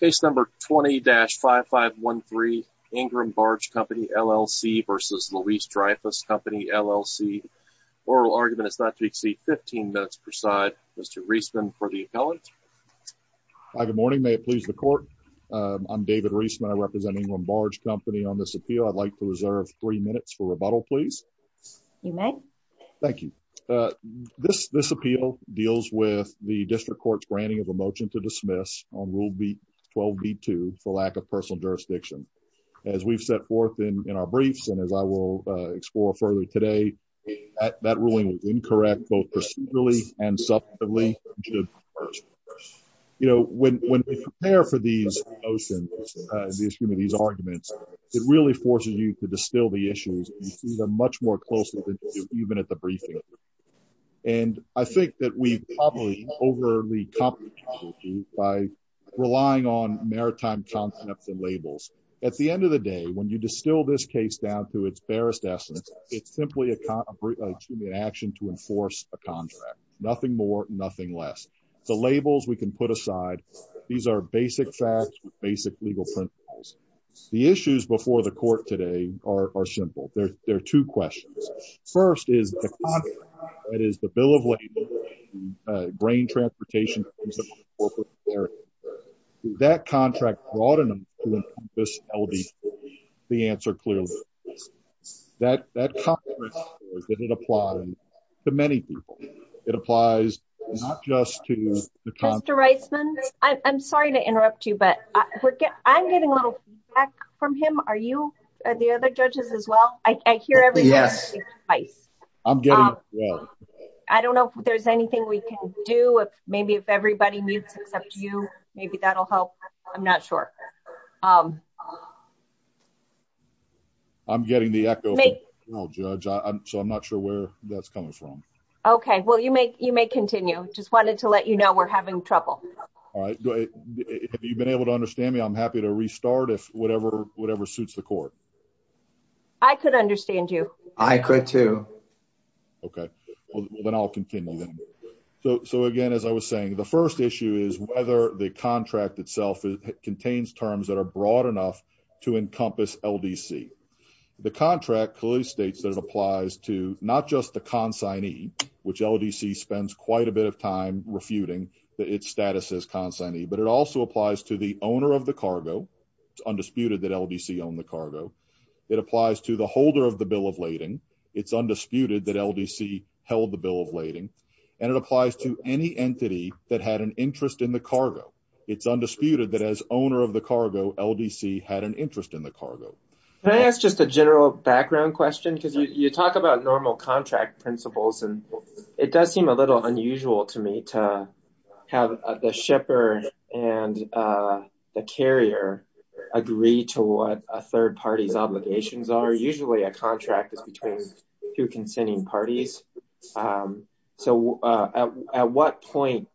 Case number 20-5513 Ingram Barge Company LLC versus Louis Dreyfus Company LLC. Oral argument is not to exceed 15 minutes per side. Mr. Reisman for the appellant. Hi, good morning. May it please the court? I'm David Reisman. I represent Ingram Barge Company. On this appeal, I'd like to reserve three minutes for rebuttal, please. You may. Thank you. This appeal deals with the district court's granting of a motion to dismiss on Rule 12b-2 for lack of personal jurisdiction. As we've set forth in our briefs and as I will explore further today, that ruling was incorrect both procedurally and substantively. You know, when we prepare for these motions, these arguments, it really forces you to distill the issues and see them much more closely than you do even at the briefing. And I think that we've probably overly complicated by relying on maritime concepts and labels. At the end of the day, when you distill this case down to its barest essence, it's simply an action to enforce a contract. Nothing more, nothing less. The labels we can put aside. These are basic facts, basic legal principles. The issues before the court today are simple. There are two questions. First is the contract, that is the bill of labor, grain transportation, that contract brought in the answer clearly. That contract that it applied to many people, it applies not just to the contract. Mr. Reisman, I'm sorry to interrupt you, but I'm getting a little feedback from him. Are the other judges as well? I hear everything. I don't know if there's anything we can do. Maybe if everybody mutes except you, maybe that'll help. I'm not sure. I'm getting the echo, Judge, so I'm not sure where that's coming from. Okay. Well, you may continue. Just wanted to let you know we're having trouble. All right. Have you been able to understand me? I'm happy to restart if whatever suits the court. I could understand you. I could too. Okay. Well, then I'll continue then. So again, as I was saying, the first issue is whether the contract itself contains terms that are broad enough to encompass LDC. The contract clearly states that it applies to not just the consignee, which LDC spends quite a bit of time refuting that its status is consignee, but it also applies to the owner of the cargo. It's undisputed that LDC owned the cargo. It applies to the holder of the bill of lading. It's undisputed that LDC held the bill of lading, and it applies to any entity that had an interest in the cargo. It's undisputed that as owner of the cargo, LDC had an interest in the cargo. Can I ask just a general background question? Because you talk about normal contract principles, it does seem a little unusual to me to have the shipper and the carrier agree to what a third party's obligations are. Usually a contract is between two consenting parties. So at what point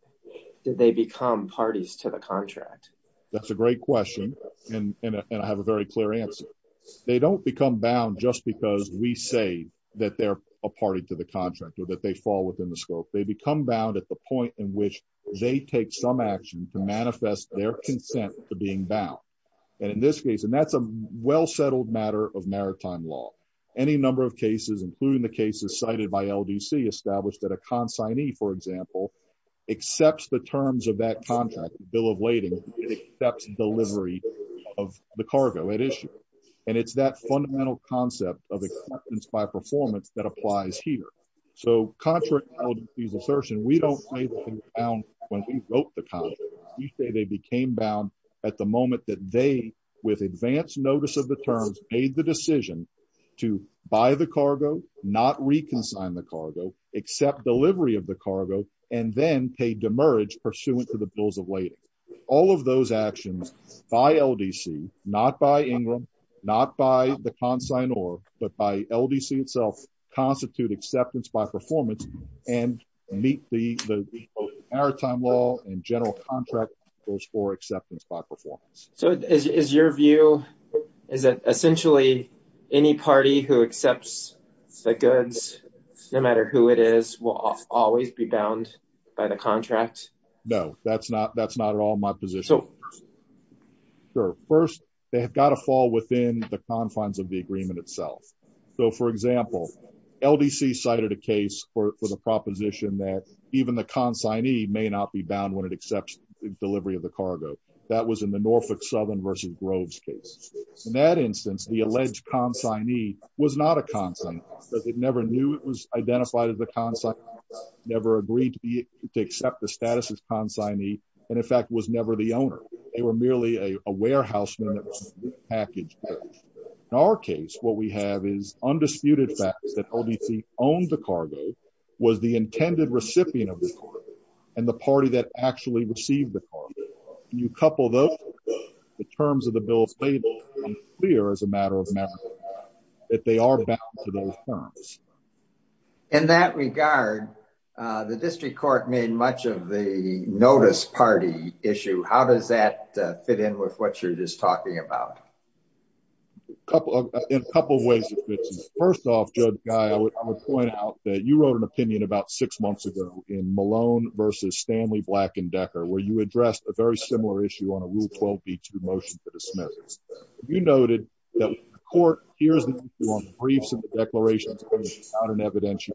did they become parties to the contract? That's a great question, and I have a very clear answer. They don't become bound just because we say that they're a party to the contract or that they fall within the scope. They become bound at the point in which they take some action to manifest their consent to being bound. And in this case, and that's a well-settled matter of maritime law, any number of cases, including the cases cited by LDC, established that a consignee, for example, accepts the terms of that contract, bill of lading, it accepts delivery of the cargo at issue. And it's that fundamental concept of acceptance by performance that applies here. So contrary to LDC's assertion, we don't say they became bound when we wrote the contract. We say they became bound at the moment that they, with advanced notice of the terms, made the decision to buy the cargo, not reconsign the cargo, accept delivery of the cargo, and then pay demerge pursuant to the bills of lading. All of those actions by LDC, not by Ingram, not by the consignee, but by LDC itself, constitute acceptance by performance and meet the maritime law and general contract rules for acceptance by performance. So is your view, is it essentially any party who accepts the goods, no matter who it is, will always be bound by the contract? No, that's not at all my position. Sure. First, they have got to fall within the confines of the agreement itself. So for example, LDC cited a case for the proposition that even the consignee may not be bound when it accepts delivery of the cargo. That was in the Norfolk Southern versus Groves case. In that instance, the alleged consignee was not a consignee because it never knew it was identified as a consignee, never agreed to be to accept the status as consignee, and in fact was never the owner. They were merely a warehouse package. In our case, what we have is undisputed facts that LDC owned the cargo, was the intended recipient of the cargo, and the party that actually received the cargo. You couple those, the terms of the bill of lading, clear as a matter of matter that they are bound to those terms. In that regard, the district court made much of the notice party issue. How does that fit in with what you're just talking about? In a couple of ways it fits in. First off, Judge Guy, I would point out that you wrote an opinion about six months ago in Malone versus Stanley Black and Decker, where you addressed a very important issue. Here's the issue on briefs and declarations. It's not an evidentiary.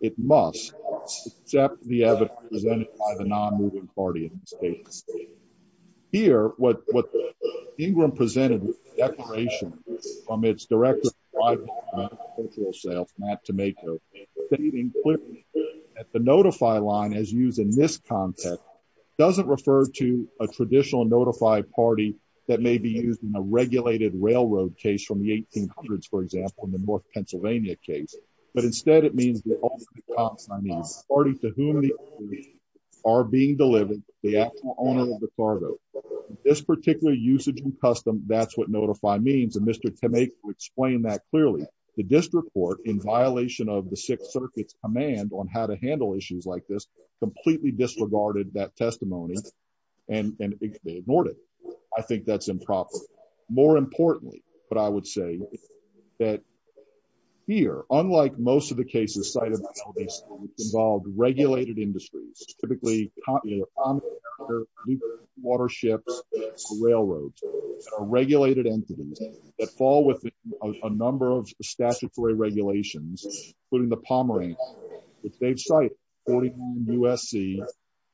It must accept the evidence presented by the non-moving party in this case. Here, what Ingram presented with the declaration from its director of private commercial sales, Matt Tomeko, stating clearly that the notify line as used in this context doesn't refer to a traditional notify party that may be used in a regulated railroad case from the 1800s, for example, in the North Pennsylvania case, but instead it means the party to whom the are being delivered, the actual owner of the cargo. This particular usage and custom, that's what notify means, and Mr. Tomeko explained that clearly. The district court, in violation of the Sixth Circuit's command on how to handle issues like this, completely disregarded that testimony and ignored it. I think that's improper. More importantly, what I would say is that here, unlike most of the cases cited, involved regulated industries, typically waterships, railroads, regulated entities that fall within a number of statutory regulations, including the Pomeranian, which they've cited, 49 USC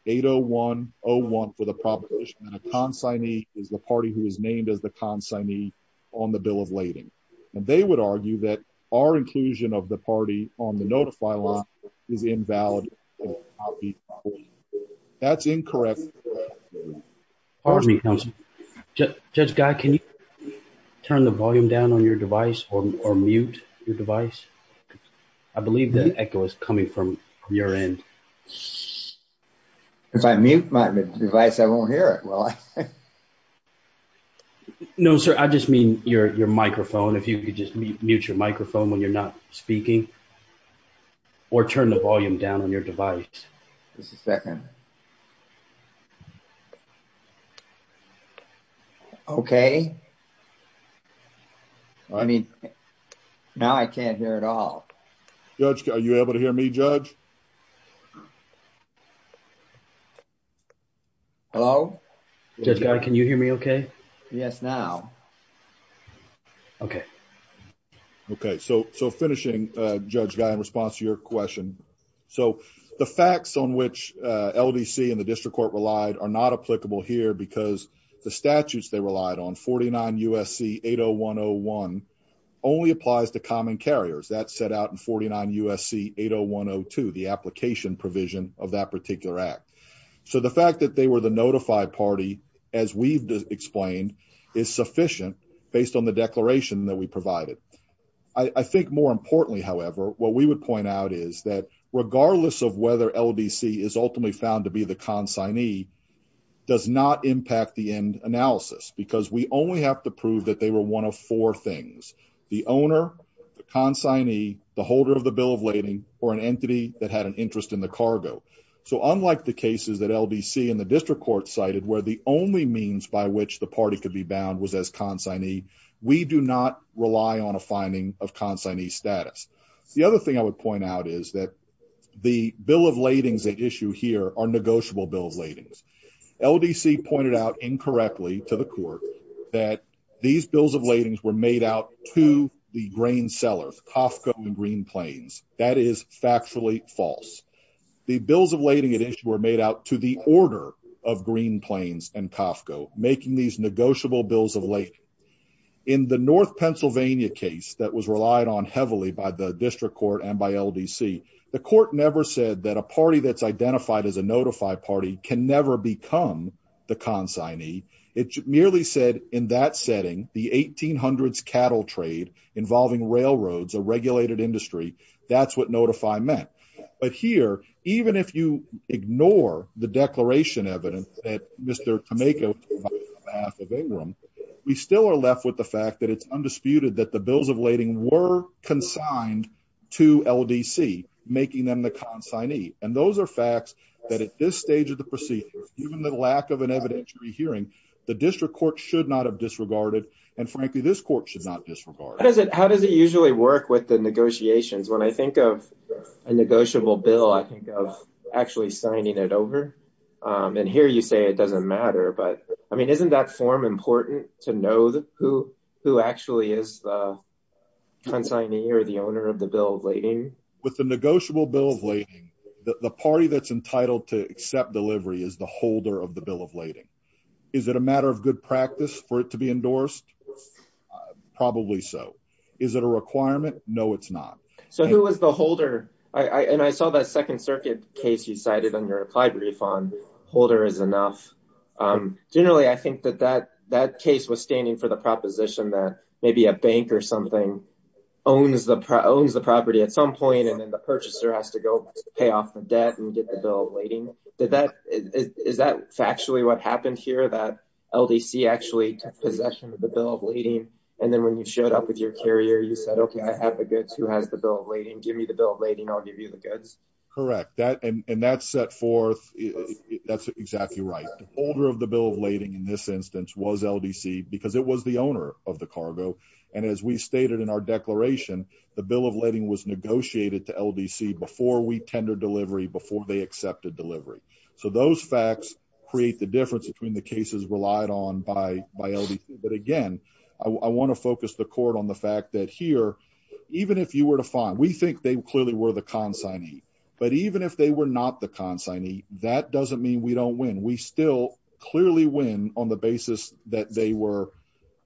80101 for the proposition that a consignee is the party who is named as the consignee on the bill of lading, and they would argue that our inclusion of the party on the notify line is invalid. That's incorrect. Pardon me, counsel. Judge Guy, can you turn the volume down on your device or mute your device? I believe the echo is coming from your end. If I mute my device, I won't hear it. No, sir, I just mean your microphone. If you could just mute your microphone when you're not speaking or turn the volume down on your device. Just a second. Okay. I mean, now I can't hear at all. Judge, are you able to hear me, Judge? Hello? Judge Guy, can you hear me okay? Yes, now. Okay. Okay. So, finishing, Judge Guy, response to your question. So, the facts on which LDC and the district court relied are not applicable here because the statutes they relied on, 49 USC 80101, only applies to common carriers. That's set out in 49 USC 80102, the application provision of that particular act. So, the fact that they were the notified party, as we've explained, is sufficient based on the declaration that we provided. I think more importantly, however, what we would point out is that regardless of whether LDC is ultimately found to be the consignee does not impact the end analysis because we only have to prove that they were one of four things, the owner, the consignee, the holder of the bill of lading, or an entity that had an interest in the cargo. So, unlike the cases that LDC and the district court cited where the only means by which the party could be rely on a finding of consignee status. The other thing I would point out is that the bill of ladings at issue here are negotiable bill of ladings. LDC pointed out incorrectly to the court that these bills of ladings were made out to the grain sellers, Coffco and Green Plains. That is factually false. The bills of lading at issue were made out to the order of Green Plains and Coffco, making these negotiable bills of lading. In the North Pennsylvania case that was relied on heavily by the district court and by LDC, the court never said that a party that's identified as a notify party can never become the consignee. It merely said in that setting, the 1800s cattle trade involving railroads, a regulated industry, that's what notify meant. But here, even if you ignore the declaration evidence that Mr. Tameka provided on behalf of Ingram, we still are left with the fact that it's undisputed that the bills of lading were consigned to LDC, making them the consignee. And those are facts that at this stage of the proceedings, given the lack of an evidentiary hearing, the district court should not have disregarded, and frankly, this court should not disregard. How does it usually work with negotiations? When I think of a negotiable bill, I think of actually signing it over. And here you say it doesn't matter, but isn't that form important to know who actually is the consignee or the owner of the bill of lading? With the negotiable bill of lading, the party that's entitled to accept delivery is the holder of the bill of lading. Is it a matter of good or bad? No, it's not. So who was the holder? And I saw that Second Circuit case you cited under applied refund. Holder is enough. Generally, I think that that case was standing for the proposition that maybe a bank or something owns the property at some point, and then the purchaser has to go pay off the debt and get the bill of lading. Is that factually what happened here, that LDC actually took possession of the bill of lading? And then when you showed up with your bill of lading, give me the bill of lading. I'll give you the goods. Correct. And that's set forth. That's exactly right. The holder of the bill of lading in this instance was LDC because it was the owner of the cargo. And as we stated in our declaration, the bill of lading was negotiated to LDC before we tendered delivery, before they accepted delivery. So those facts create the difference between the cases relied on by LDC. But again, I want to think they clearly were the consignee. But even if they were not the consignee, that doesn't mean we don't win. We still clearly win on the basis that they were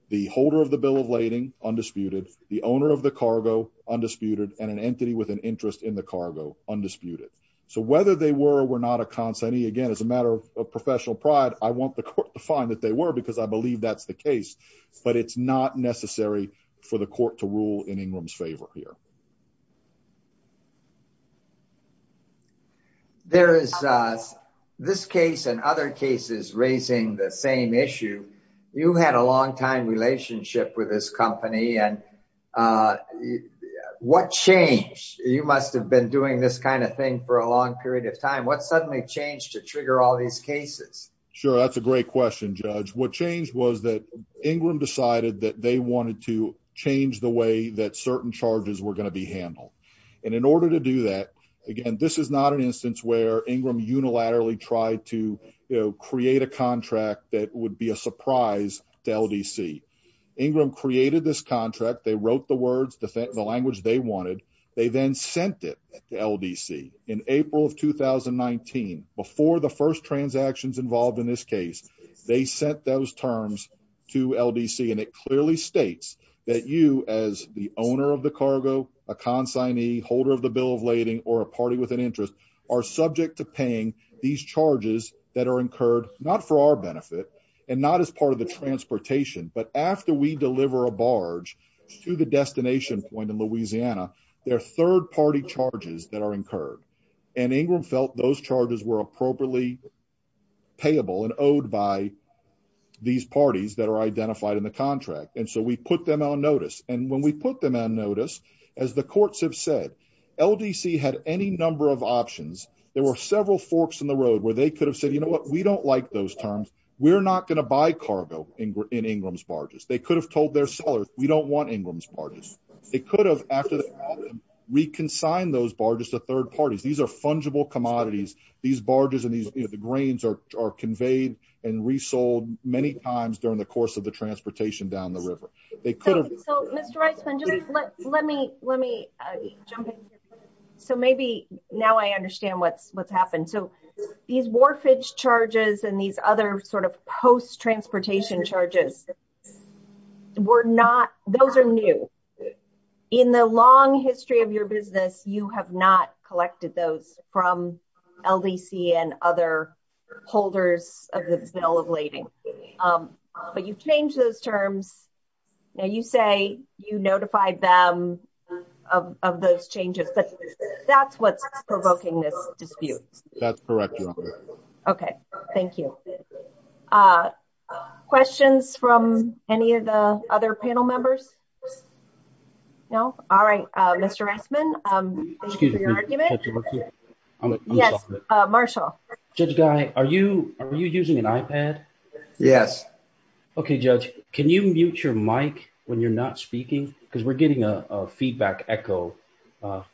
the holder of the bill of lading, undisputed, the owner of the cargo, undisputed, and an entity with an interest in the cargo, undisputed. So whether they were or were not a consignee, again, as a matter of professional pride, I want the court to find that they were because I believe that's the case. But it's not necessary for the court to rule in Ingram's favor here. There is this case and other cases raising the same issue. You had a long time relationship with this company. And what changed? You must have been doing this kind of thing for a long period of time. What suddenly changed to trigger all these cases? Sure. That's a great question, Judge. What changed was that Ingram decided that they wanted to change the way that certain charges were going to be handled. And in order to do that, again, this is not an instance where Ingram unilaterally tried to create a contract that would be a surprise to LDC. Ingram created this contract. They wrote the words, the language they wanted. They then sent it to LDC in April of 2019. Before the first transactions involved in this case, they sent those terms to LDC. And it clearly states that you as the owner of the cargo, a consignee, holder of the bill of lading, or a party with an interest are subject to paying these charges that are incurred not for our benefit and not as part of the transportation, but after we deliver a barge to the destination point in Louisiana, they're third party charges that are incurred. And Ingram felt those charges were appropriately payable and owed by these parties that are identified in the contract. And so we put them on notice. And when we put them on notice, as the courts have said, LDC had any number of options. There were several forks in the road where they could have said, you know what, we don't like those terms. We're not going to buy cargo in Ingram's barges. They could have told their sellers, we don't want Ingram's barges. They could have after reconciled those barges to third parties. These are fungible commodities. These barges and these grains are conveyed and resold many times during the course of the transportation down the river. So Mr. Reisman, let me jump in here. So maybe now I understand what's happened. So these warfage charges and these other sort of post-transportation charges were not, those are new. In the long history of your business, you have not collected those from LDC and other holders of the bill of lading. But you've changed those terms. Now you say you notified them of those changes, but that's what's provoking this dispute. That's correct, Your Honor. Okay. Thank you. Questions from any of the other panel members? No? All right. Mr. Reisman, thank you for your argument. Yes, Marshall. Judge Guy, are you using an iPad? Yes. Okay, Judge, can you mute your mic when you're not speaking? Because we're getting a feedback echo,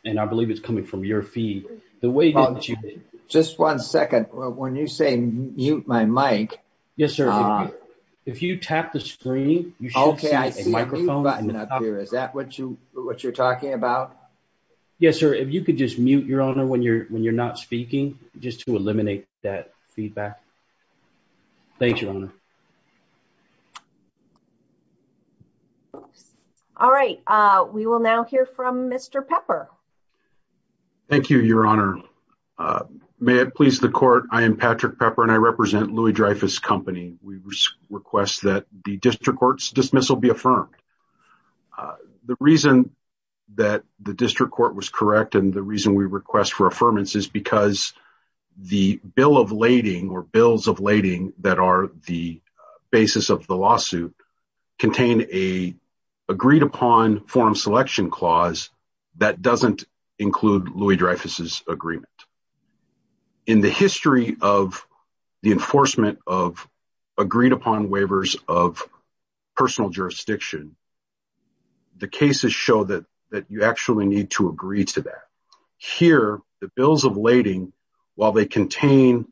and I believe it's coming from your feed. The way that you did- Just one second. When you say mute my mic- Yes, sir. If you tap the screen, you should see a microphone. Is that what you're talking about? Yes, sir. If you could just mute, Your Honor, when you're not speaking, just to eliminate that feedback. Thanks, Your Honor. All right. We will now hear from Mr. Pepper. Thank you, Your Honor. May it please the court, I am Patrick Pepper, and I represent Louis-Dreyfus Company. We request that the district court's dismissal be affirmed. The reason that the district court was correct and the reason we request for affirmance is because the bill of lading or bills of lading that are the basis of the lawsuit contain a agreed-upon form selection clause that doesn't include Louis-Dreyfus's agreement. In the history of the enforcement of agreed-upon waivers of personal jurisdiction, the cases show that you actually need to agree to that. Here, the bills of lading, while they contain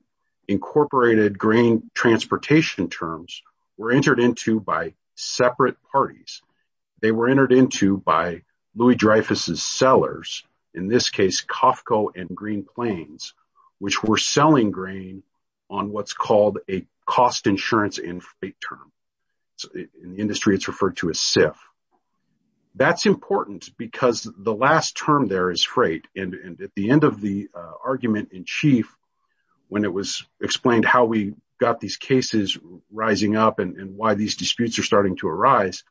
incorporated green transportation terms, were entered into by separate parties. They were which were selling grain on what's called a cost insurance and freight term. In the industry, it's referred to as SIF. That's important because the last term there is freight. At the end of the argument in chief, when it was explained how we got these cases rising up and why these disputes are starting to arise,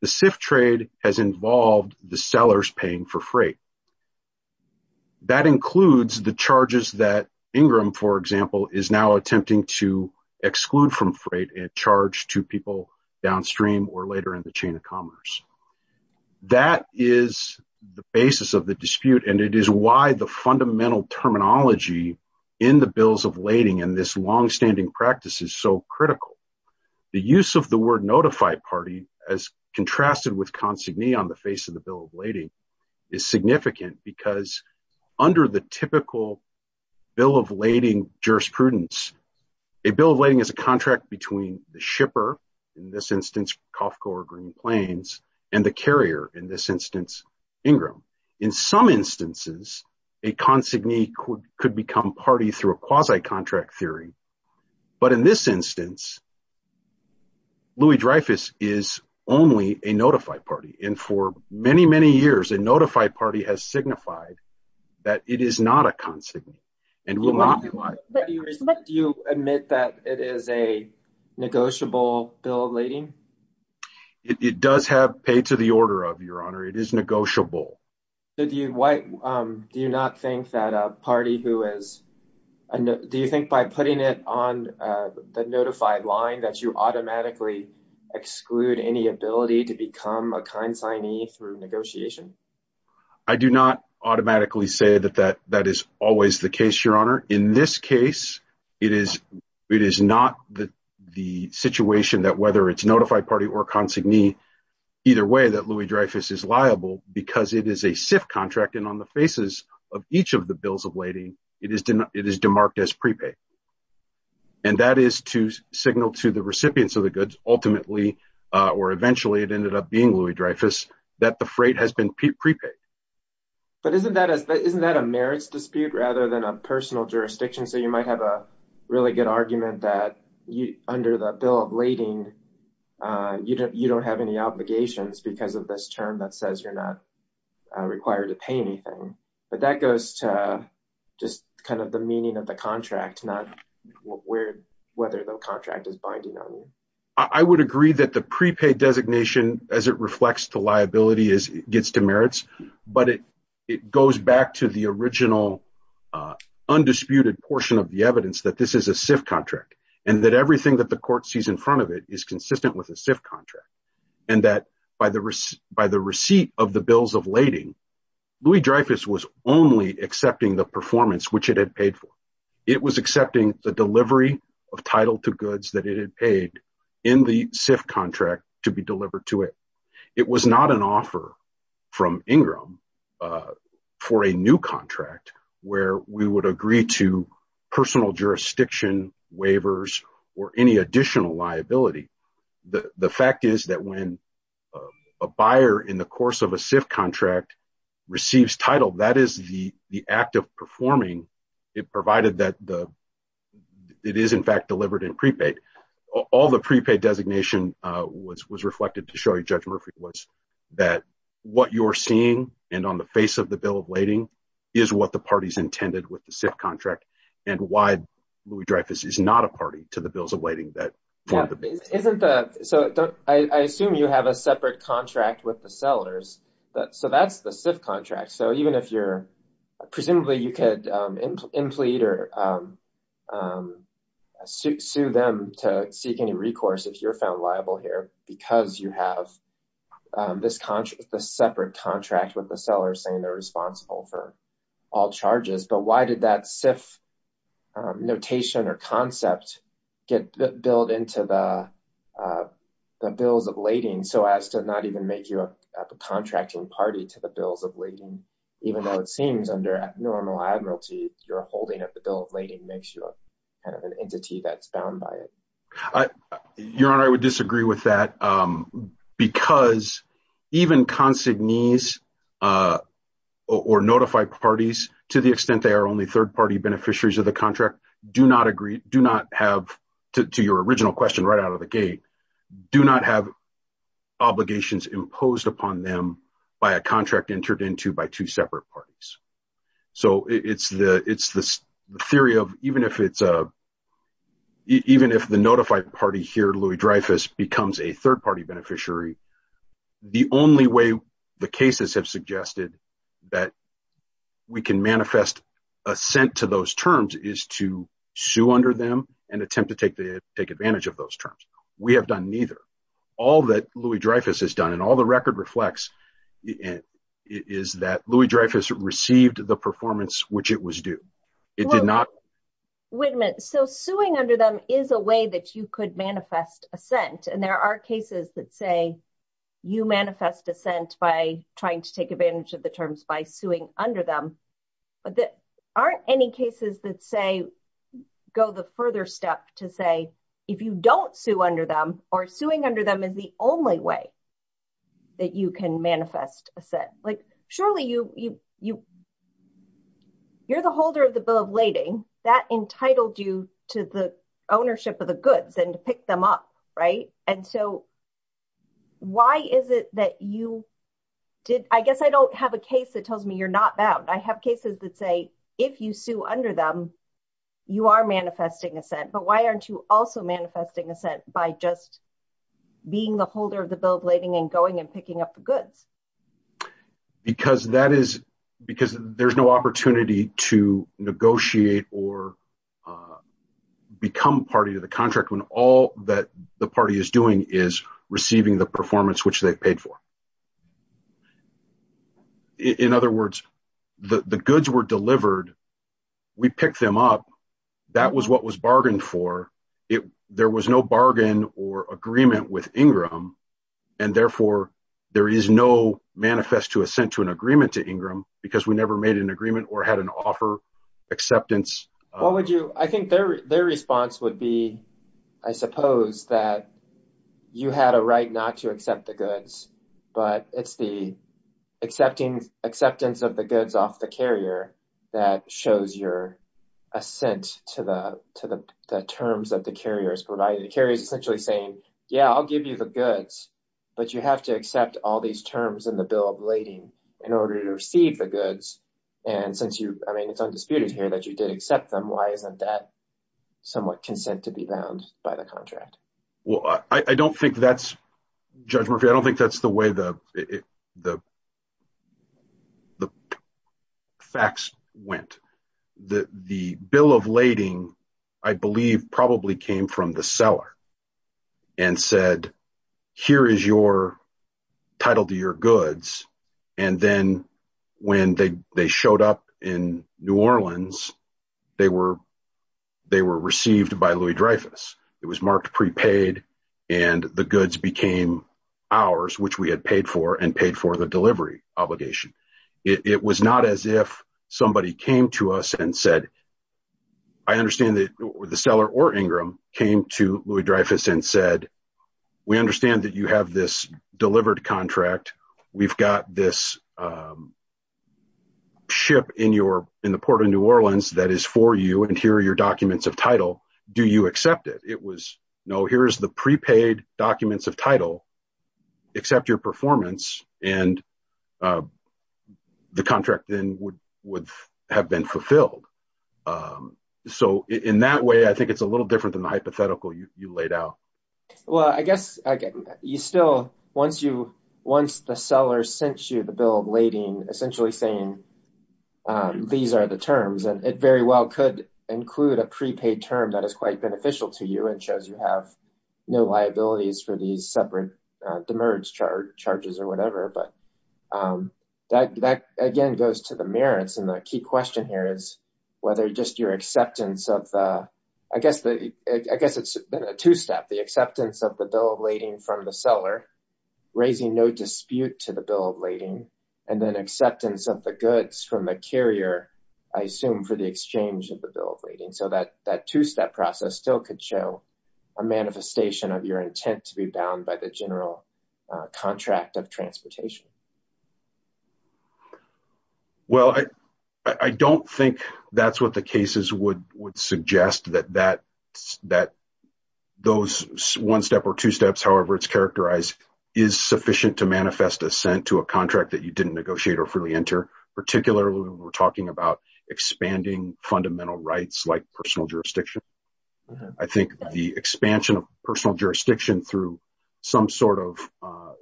the SIF trade has involved the sellers paying for freight. That includes the charges that Ingram, for example, is now attempting to exclude from freight and charge to people downstream or later in the chain of commerce. That is the basis of the dispute and it is why the fundamental terminology in the bills of lading and this long-standing practice is so critical. The use of the word notified party, as contrasted with consignee on the face of the bill of lading, is significant because under the typical bill of lading jurisprudence, a bill of lading is a contract between the shipper, in this instance, Cofco or Green Plains, and the carrier, in this instance, Ingram. In some instances, a consignee could become party through a quasi-contract theory, but in this instance, Louis-Dreyfus is only a notified party and for many, many years, a notified party has signified that it is not a consignee. Do you admit that it is a negotiable bill of lading? It does have pay to the order of, Your Honor. It is negotiable. Do you not think that a party who is, do you think by putting it on the notified line that you automatically exclude any ability to become a consignee through negotiation? I do not automatically say that that is always the case, Your Honor. In this case, it is not the situation that whether it is notified party or consignee, either way that is a SIF contract and on the faces of each of the bills of lading, it is demarked as prepaid. And that is to signal to the recipients of the goods, ultimately, or eventually, it ended up being Louis-Dreyfus, that the freight has been prepaid. But isn't that a merits dispute rather than a personal jurisdiction? So you might have a really good argument that under the bill of lading, you don't have any obligations because of this term that says you're not required to pay anything. But that goes to just kind of the meaning of the contract, not whether the contract is binding on you. I would agree that the prepaid designation, as it reflects to liability, gets to merits, but it goes back to the original undisputed portion of the evidence that this is a SIF contract and that everything that the court sees in front of it is consistent with a SIF contract. And that by the receipt of the bills of lading, Louis-Dreyfus was only accepting the performance which it had paid for. It was accepting the delivery of title to goods that it had paid in the SIF contract to be delivered to it. It was not an offer from Ingram for a new contract where we would agree to personal jurisdiction waivers or any additional liability. The fact is that when a buyer in the course of a SIF contract receives title, that is the act of performing it provided that it is in fact delivered in prepaid. All the prepaid designation was reflected to show you, Judge Murphy, was that what you're seeing and on the face of the bill of lading is what the party's intended with the SIF contract and why Louis-Dreyfus is not a party to bills of lading. I assume you have a separate contract with the sellers, so that's the SIF contract. Presumably you could implead or sue them to seek any recourse if you're found liable here because you have this separate contract with the seller saying they're responsible for all charges, but why did that SIF notation or concept get built into the bills of lading so as to not even make you a contracting party to the bills of lading, even though it seems under abnormal admiralty you're holding up the bill of lading makes you kind of an entity that's bound by it. Your Honor, I would disagree with that because even consignees or notified parties, to the extent they are only third-party beneficiaries of the contract, do not agree, do not have, to your original question right out of the gate, do not have obligations imposed upon them by a contract entered into by two separate parties. So it's the theory of even if the notified party here, Louis-Dreyfus, becomes a third-party beneficiary, the only way the cases have suggested that we can manifest assent to those terms is to sue under them and attempt to take advantage of those terms. We have done neither. All that Louis-Dreyfus has done and all the record reflects is that Louis-Dreyfus received the performance which it was due. It did not. Wait a minute. So suing under them is a way that you could manifest assent and there are cases that say you manifest assent by trying to take advantage of the terms by suing under them, but there aren't any cases that say, go the further step to say if you don't sue under them or suing under them is the only way that you can manifest assent. Like surely you're the of the bill of lading that entitled you to the ownership of the goods and to pick them up. I guess I don't have a case that tells me you're not bound. I have cases that say if you sue under them, you are manifesting assent, but why aren't you also manifesting assent by just being the holder of the bill of lading and going and picking up the goods? Because there's no opportunity to negotiate or become party to the contract when all that the party is doing is receiving the performance which they've paid for. In other words, the goods were delivered. We picked them up. That was what was bargained for. There was no bargain or agreement with Ingram and therefore there is no manifest to assent to an agreement to Ingram because we never made an agreement or had an offer acceptance. I think their response would be, I suppose, that you had a right not to accept the goods, but it's the acceptance of the goods off the carrier that shows your assent to the terms that the carrier has provided. The carrier is essentially saying, yeah, I'll give you the goods, but you have to accept all these terms in the bill of lading in order to receive the goods. It's undisputed here that you did accept them. Why isn't that somewhat consent to be bound by contract? Judge Murphy, I don't think that's the way the facts went. The bill of lading, I believe, probably came from the seller and said, here is your title to your goods. Then when they showed up in New Orleans, they were received by Louis-Dreyfus. It was marked prepaid and the goods became ours, which we had paid for and paid for the delivery obligation. It was not as if somebody came to us and said, I understand that the seller or Ingram came to this delivered contract. We've got this ship in the port of New Orleans that is for you, and here are your documents of title. Do you accept it? It was, no, here's the prepaid documents of title. Accept your performance and the contract then would have been fulfilled. In that way, I think it's a little different than the hypothetical you laid out. Well, I guess you still, once the seller sent you the bill of lading, essentially saying, these are the terms, and it very well could include a prepaid term that is quite beneficial to you and shows you have no liabilities for these separate demerge charges or whatever. That, again, goes to the merits. The key question here is whether just your acceptance of the, I guess it's a two-step, the acceptance of the bill of lading from the seller, raising no dispute to the bill of lading, and then acceptance of the goods from the carrier, I assume, for the exchange of the bill of lading. That two-step process still could show a manifestation of your intent to be bound by the general contract of transportation. Well, I don't think that's what the cases would suggest, that those one-step or two-steps, however it's characterized, is sufficient to manifest assent to a contract that you didn't negotiate or freely enter, particularly when we're talking about expanding fundamental rights like personal jurisdiction. I think the expansion of personal jurisdiction through some sort of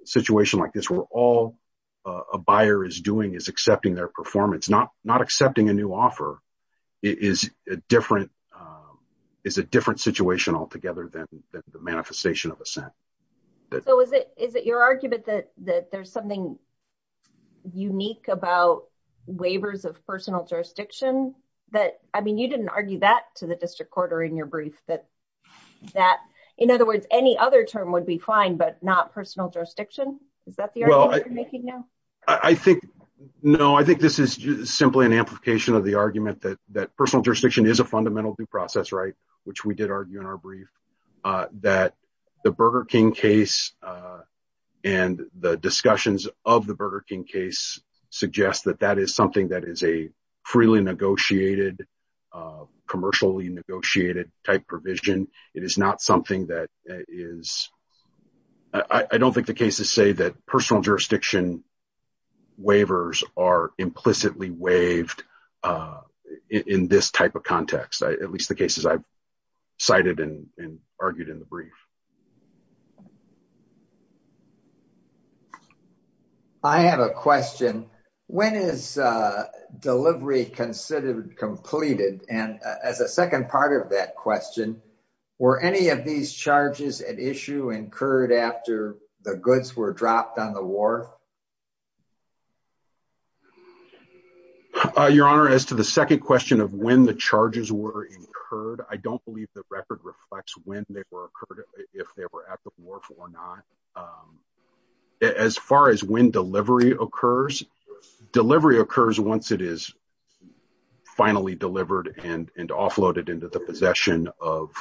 situation like this where all a buyer is doing is accepting their performance, not accepting a new offer, is a different situation altogether than the manifestation of assent. So, is it your argument that there's something unique about waivers of personal jurisdiction that, I mean, you didn't argue that to the district court or in your brief that, in other words, any other term would be fine, but not personal jurisdiction? Is that the argument you're making now? No, I think this is simply an amplification of the argument that personal jurisdiction is a fundamental due process right, which we did argue in our brief, that the Burger King case and the discussions of the Burger King case suggest that that is something that is a negotiated, commercially negotiated type provision. It is not something that is, I don't think the cases say that personal jurisdiction waivers are implicitly waived in this type of context, at least the cases I've cited and argued in the brief. I have a question. When is delivery considered completed? And as a second part of that question, were any of these charges at issue incurred after the goods were dropped on the wharf? Your Honor, as to the second question of when the charges were incurred, I don't believe the record reflects when they were occurred. If they were at the wharf or not, as far as when delivery occurs, delivery occurs once it is finally delivered and offloaded into the possession of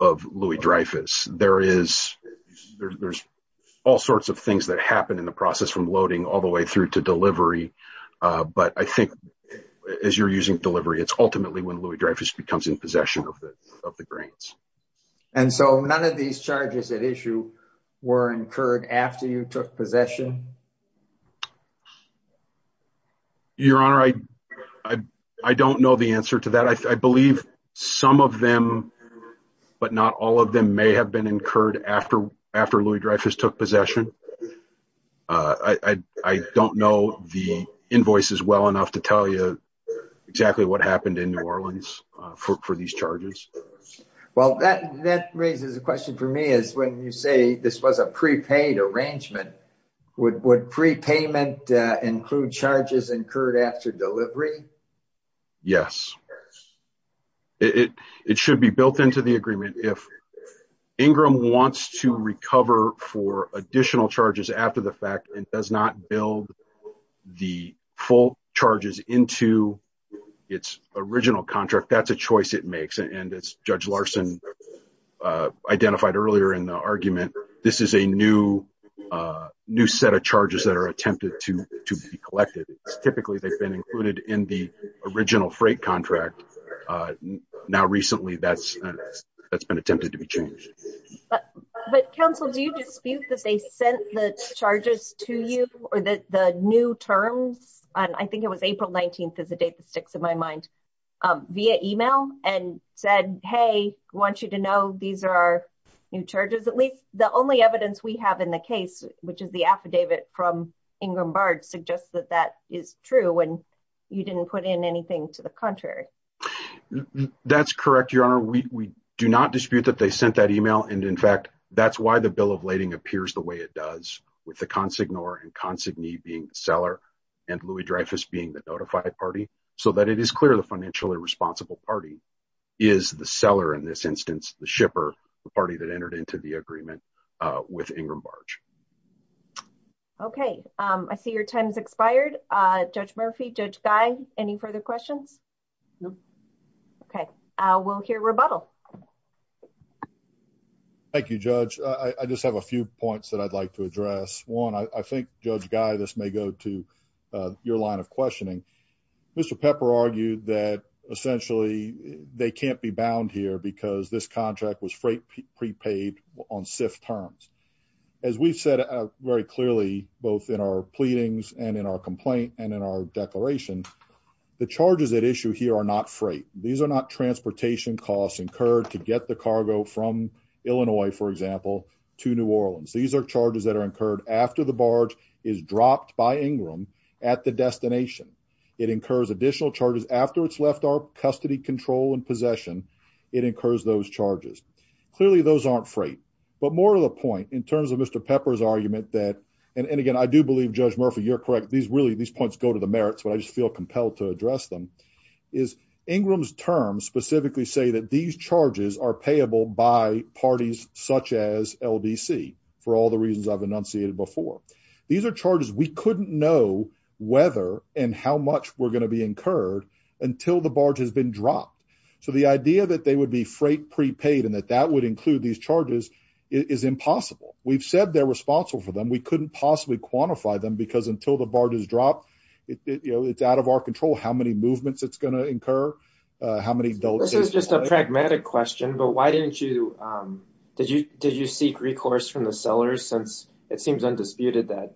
Louis-Dreyfus. There's all sorts of things that happen in the process from loading all the way through to delivery, but I think as you're using delivery, it's ultimately when Louis-Dreyfus becomes in possession. None of these charges at issue were incurred after you took possession? Your Honor, I don't know the answer to that. I believe some of them, but not all of them, may have been incurred after Louis-Dreyfus took possession. I don't know the invoices well enough to tell you exactly what happened in New Orleans for these charges. That raises a question for me. When you say this was a prepaid arrangement, would prepayment include charges incurred after delivery? Yes. It should be built into the agreement. If Ingram wants to recover for additional charges after the fact and does not build the full charges into its original contract, that's a choice it makes. As Judge Larson identified earlier in the argument, this is a new set of charges that are attempted to be collected. Typically, they've been included in the original freight contract. Now, recently, that's been attempted to be changed. But counsel, do you dispute that they sent the charges to you or the new terms? I think it was April 19th is the date that sticks in my mind, via email and said, hey, I want you to know these are our new charges. At least the only evidence we have in the case, which is the affidavit from Ingram Bard, suggests that that is true when you didn't put in anything to the contrary. That's correct, Your Honor. We do not dispute that they sent that email. In fact, that's why the bill of lading appears the way it does, with the consignor and consignee being the seller and Louis-Dreyfus being the notified party, so that it is clear the financially responsible party is the seller in this instance, the shipper, the party that entered into the agreement with Ingram Bard. Okay. I see your time has expired. Judge Murphy, Judge Guy, any further questions? No. Okay. We'll hear rebuttal. Thank you, Judge. I just have a few points that I'd like to address. One, I think, Judge Guy, this may go to your line of questioning. Mr. Pepper argued that essentially they can't be bound here because this contract was prepaid on SIF terms. As we've said very clearly, both in our pleadings and in our complaint and in our declaration, the charges at issue here are not freight. These are not transportation costs incurred to get the cargo from Illinois, for example, to New Orleans. These are charges that are incurred after the barge is dropped by Ingram at the destination. It incurs additional charges after it's left our custody control and possession. It incurs those charges. Clearly, those aren't freight. But more to the point, in terms of Mr. Pepper's argument that, and again, I do believe, Judge Murphy, you're correct, these points go to the merits, but I just feel compelled to address them, is Ingram's terms specifically say that these charges are payable by parties such as LDC, for all the reasons I've enunciated before. These are charges we couldn't know whether and how much were going to be incurred until the barge has been dropped. So the idea that would be freight prepaid and that that would include these charges is impossible. We've said they're responsible for them. We couldn't possibly quantify them because until the barge is dropped, it's out of our control how many movements it's going to incur. This is just a pragmatic question, but why didn't you, did you seek recourse from the sellers since it seems undisputed that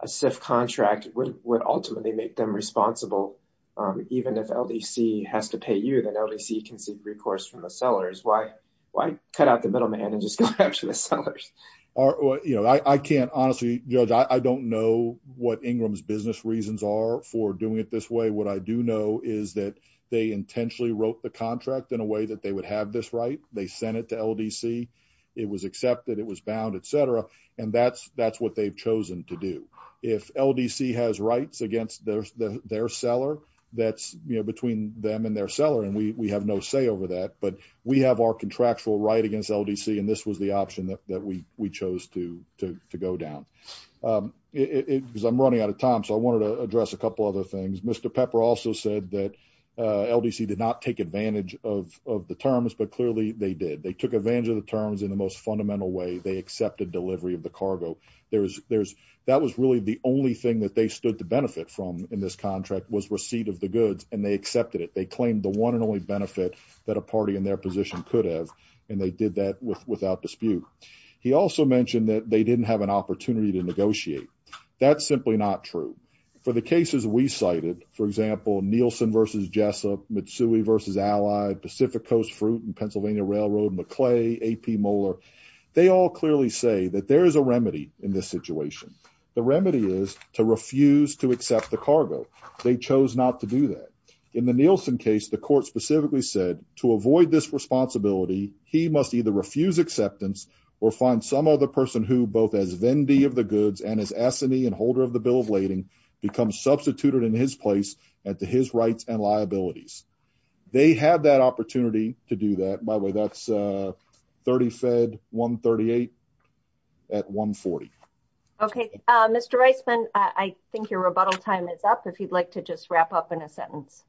a SIF contract would ultimately make them responsible, even if LDC has to pay you, then LDC can seek recourse from the sellers. Why cut out the middleman and just go after the sellers? I can't honestly, Judge, I don't know what Ingram's business reasons are for doing it this way. What I do know is that they intentionally wrote the contract in a way that they would have this right. They sent it to LDC. It was accepted, it was bound, et cetera. And that's what they've chosen to do. If LDC has rights against their seller, that's between them and their seller. And we have no say over that, but we have our contractual right against LDC. And this was the option that we chose to go down. Because I'm running out of time. So I wanted to address a couple other things. Mr. Pepper also said that LDC did not take advantage of the terms, but clearly they did. They took advantage of the terms in the most fundamental way. They accepted delivery of the cargo. That was really the only thing that they stood to benefit from in this contract was receipt of the goods, and they accepted it. They claimed the one and only benefit that a party in their position could have, and they did that without dispute. He also mentioned that they didn't have an opportunity to negotiate. That's simply not true. For the cases we cited, for example, Nielsen versus Jessup, Mitsui versus Allied, Pacific Coast Fruit and Pennsylvania Railroad, McClay, AP Moeller, they all clearly say that there is a remedy in this situation. The remedy is to refuse to accept the cargo. They chose not to do that. In the Nielsen case, the court specifically said to avoid this responsibility, he must either refuse acceptance or find some other person who both as vendee of the goods and as assinee and holder of the bill of lading becomes substituted in his place and to his rights and liabilities. They had that opportunity to do that. By the way, that's 30 Fed 138 at 140. Okay, Mr. Reisman, I think your rebuttal time is up if you'd like to just wrap up in a sentence.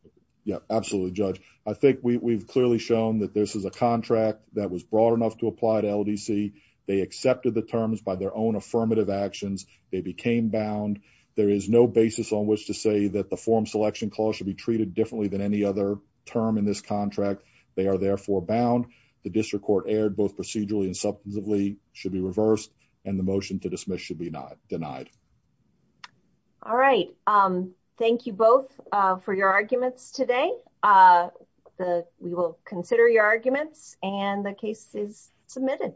Yeah, absolutely, Judge. I think we've clearly shown that this is a contract that was broad enough to apply to LDC. They accepted the terms by their own affirmative actions. They became bound. There is no basis on which to say that the form selection clause should be treated differently than any other term in this contract. They are therefore bound. The district court aired both procedurally and substantively should be reversed and the motion to dismiss should be not denied. All right. Thank you both for your arguments today. We will consider your arguments and the case is submitted.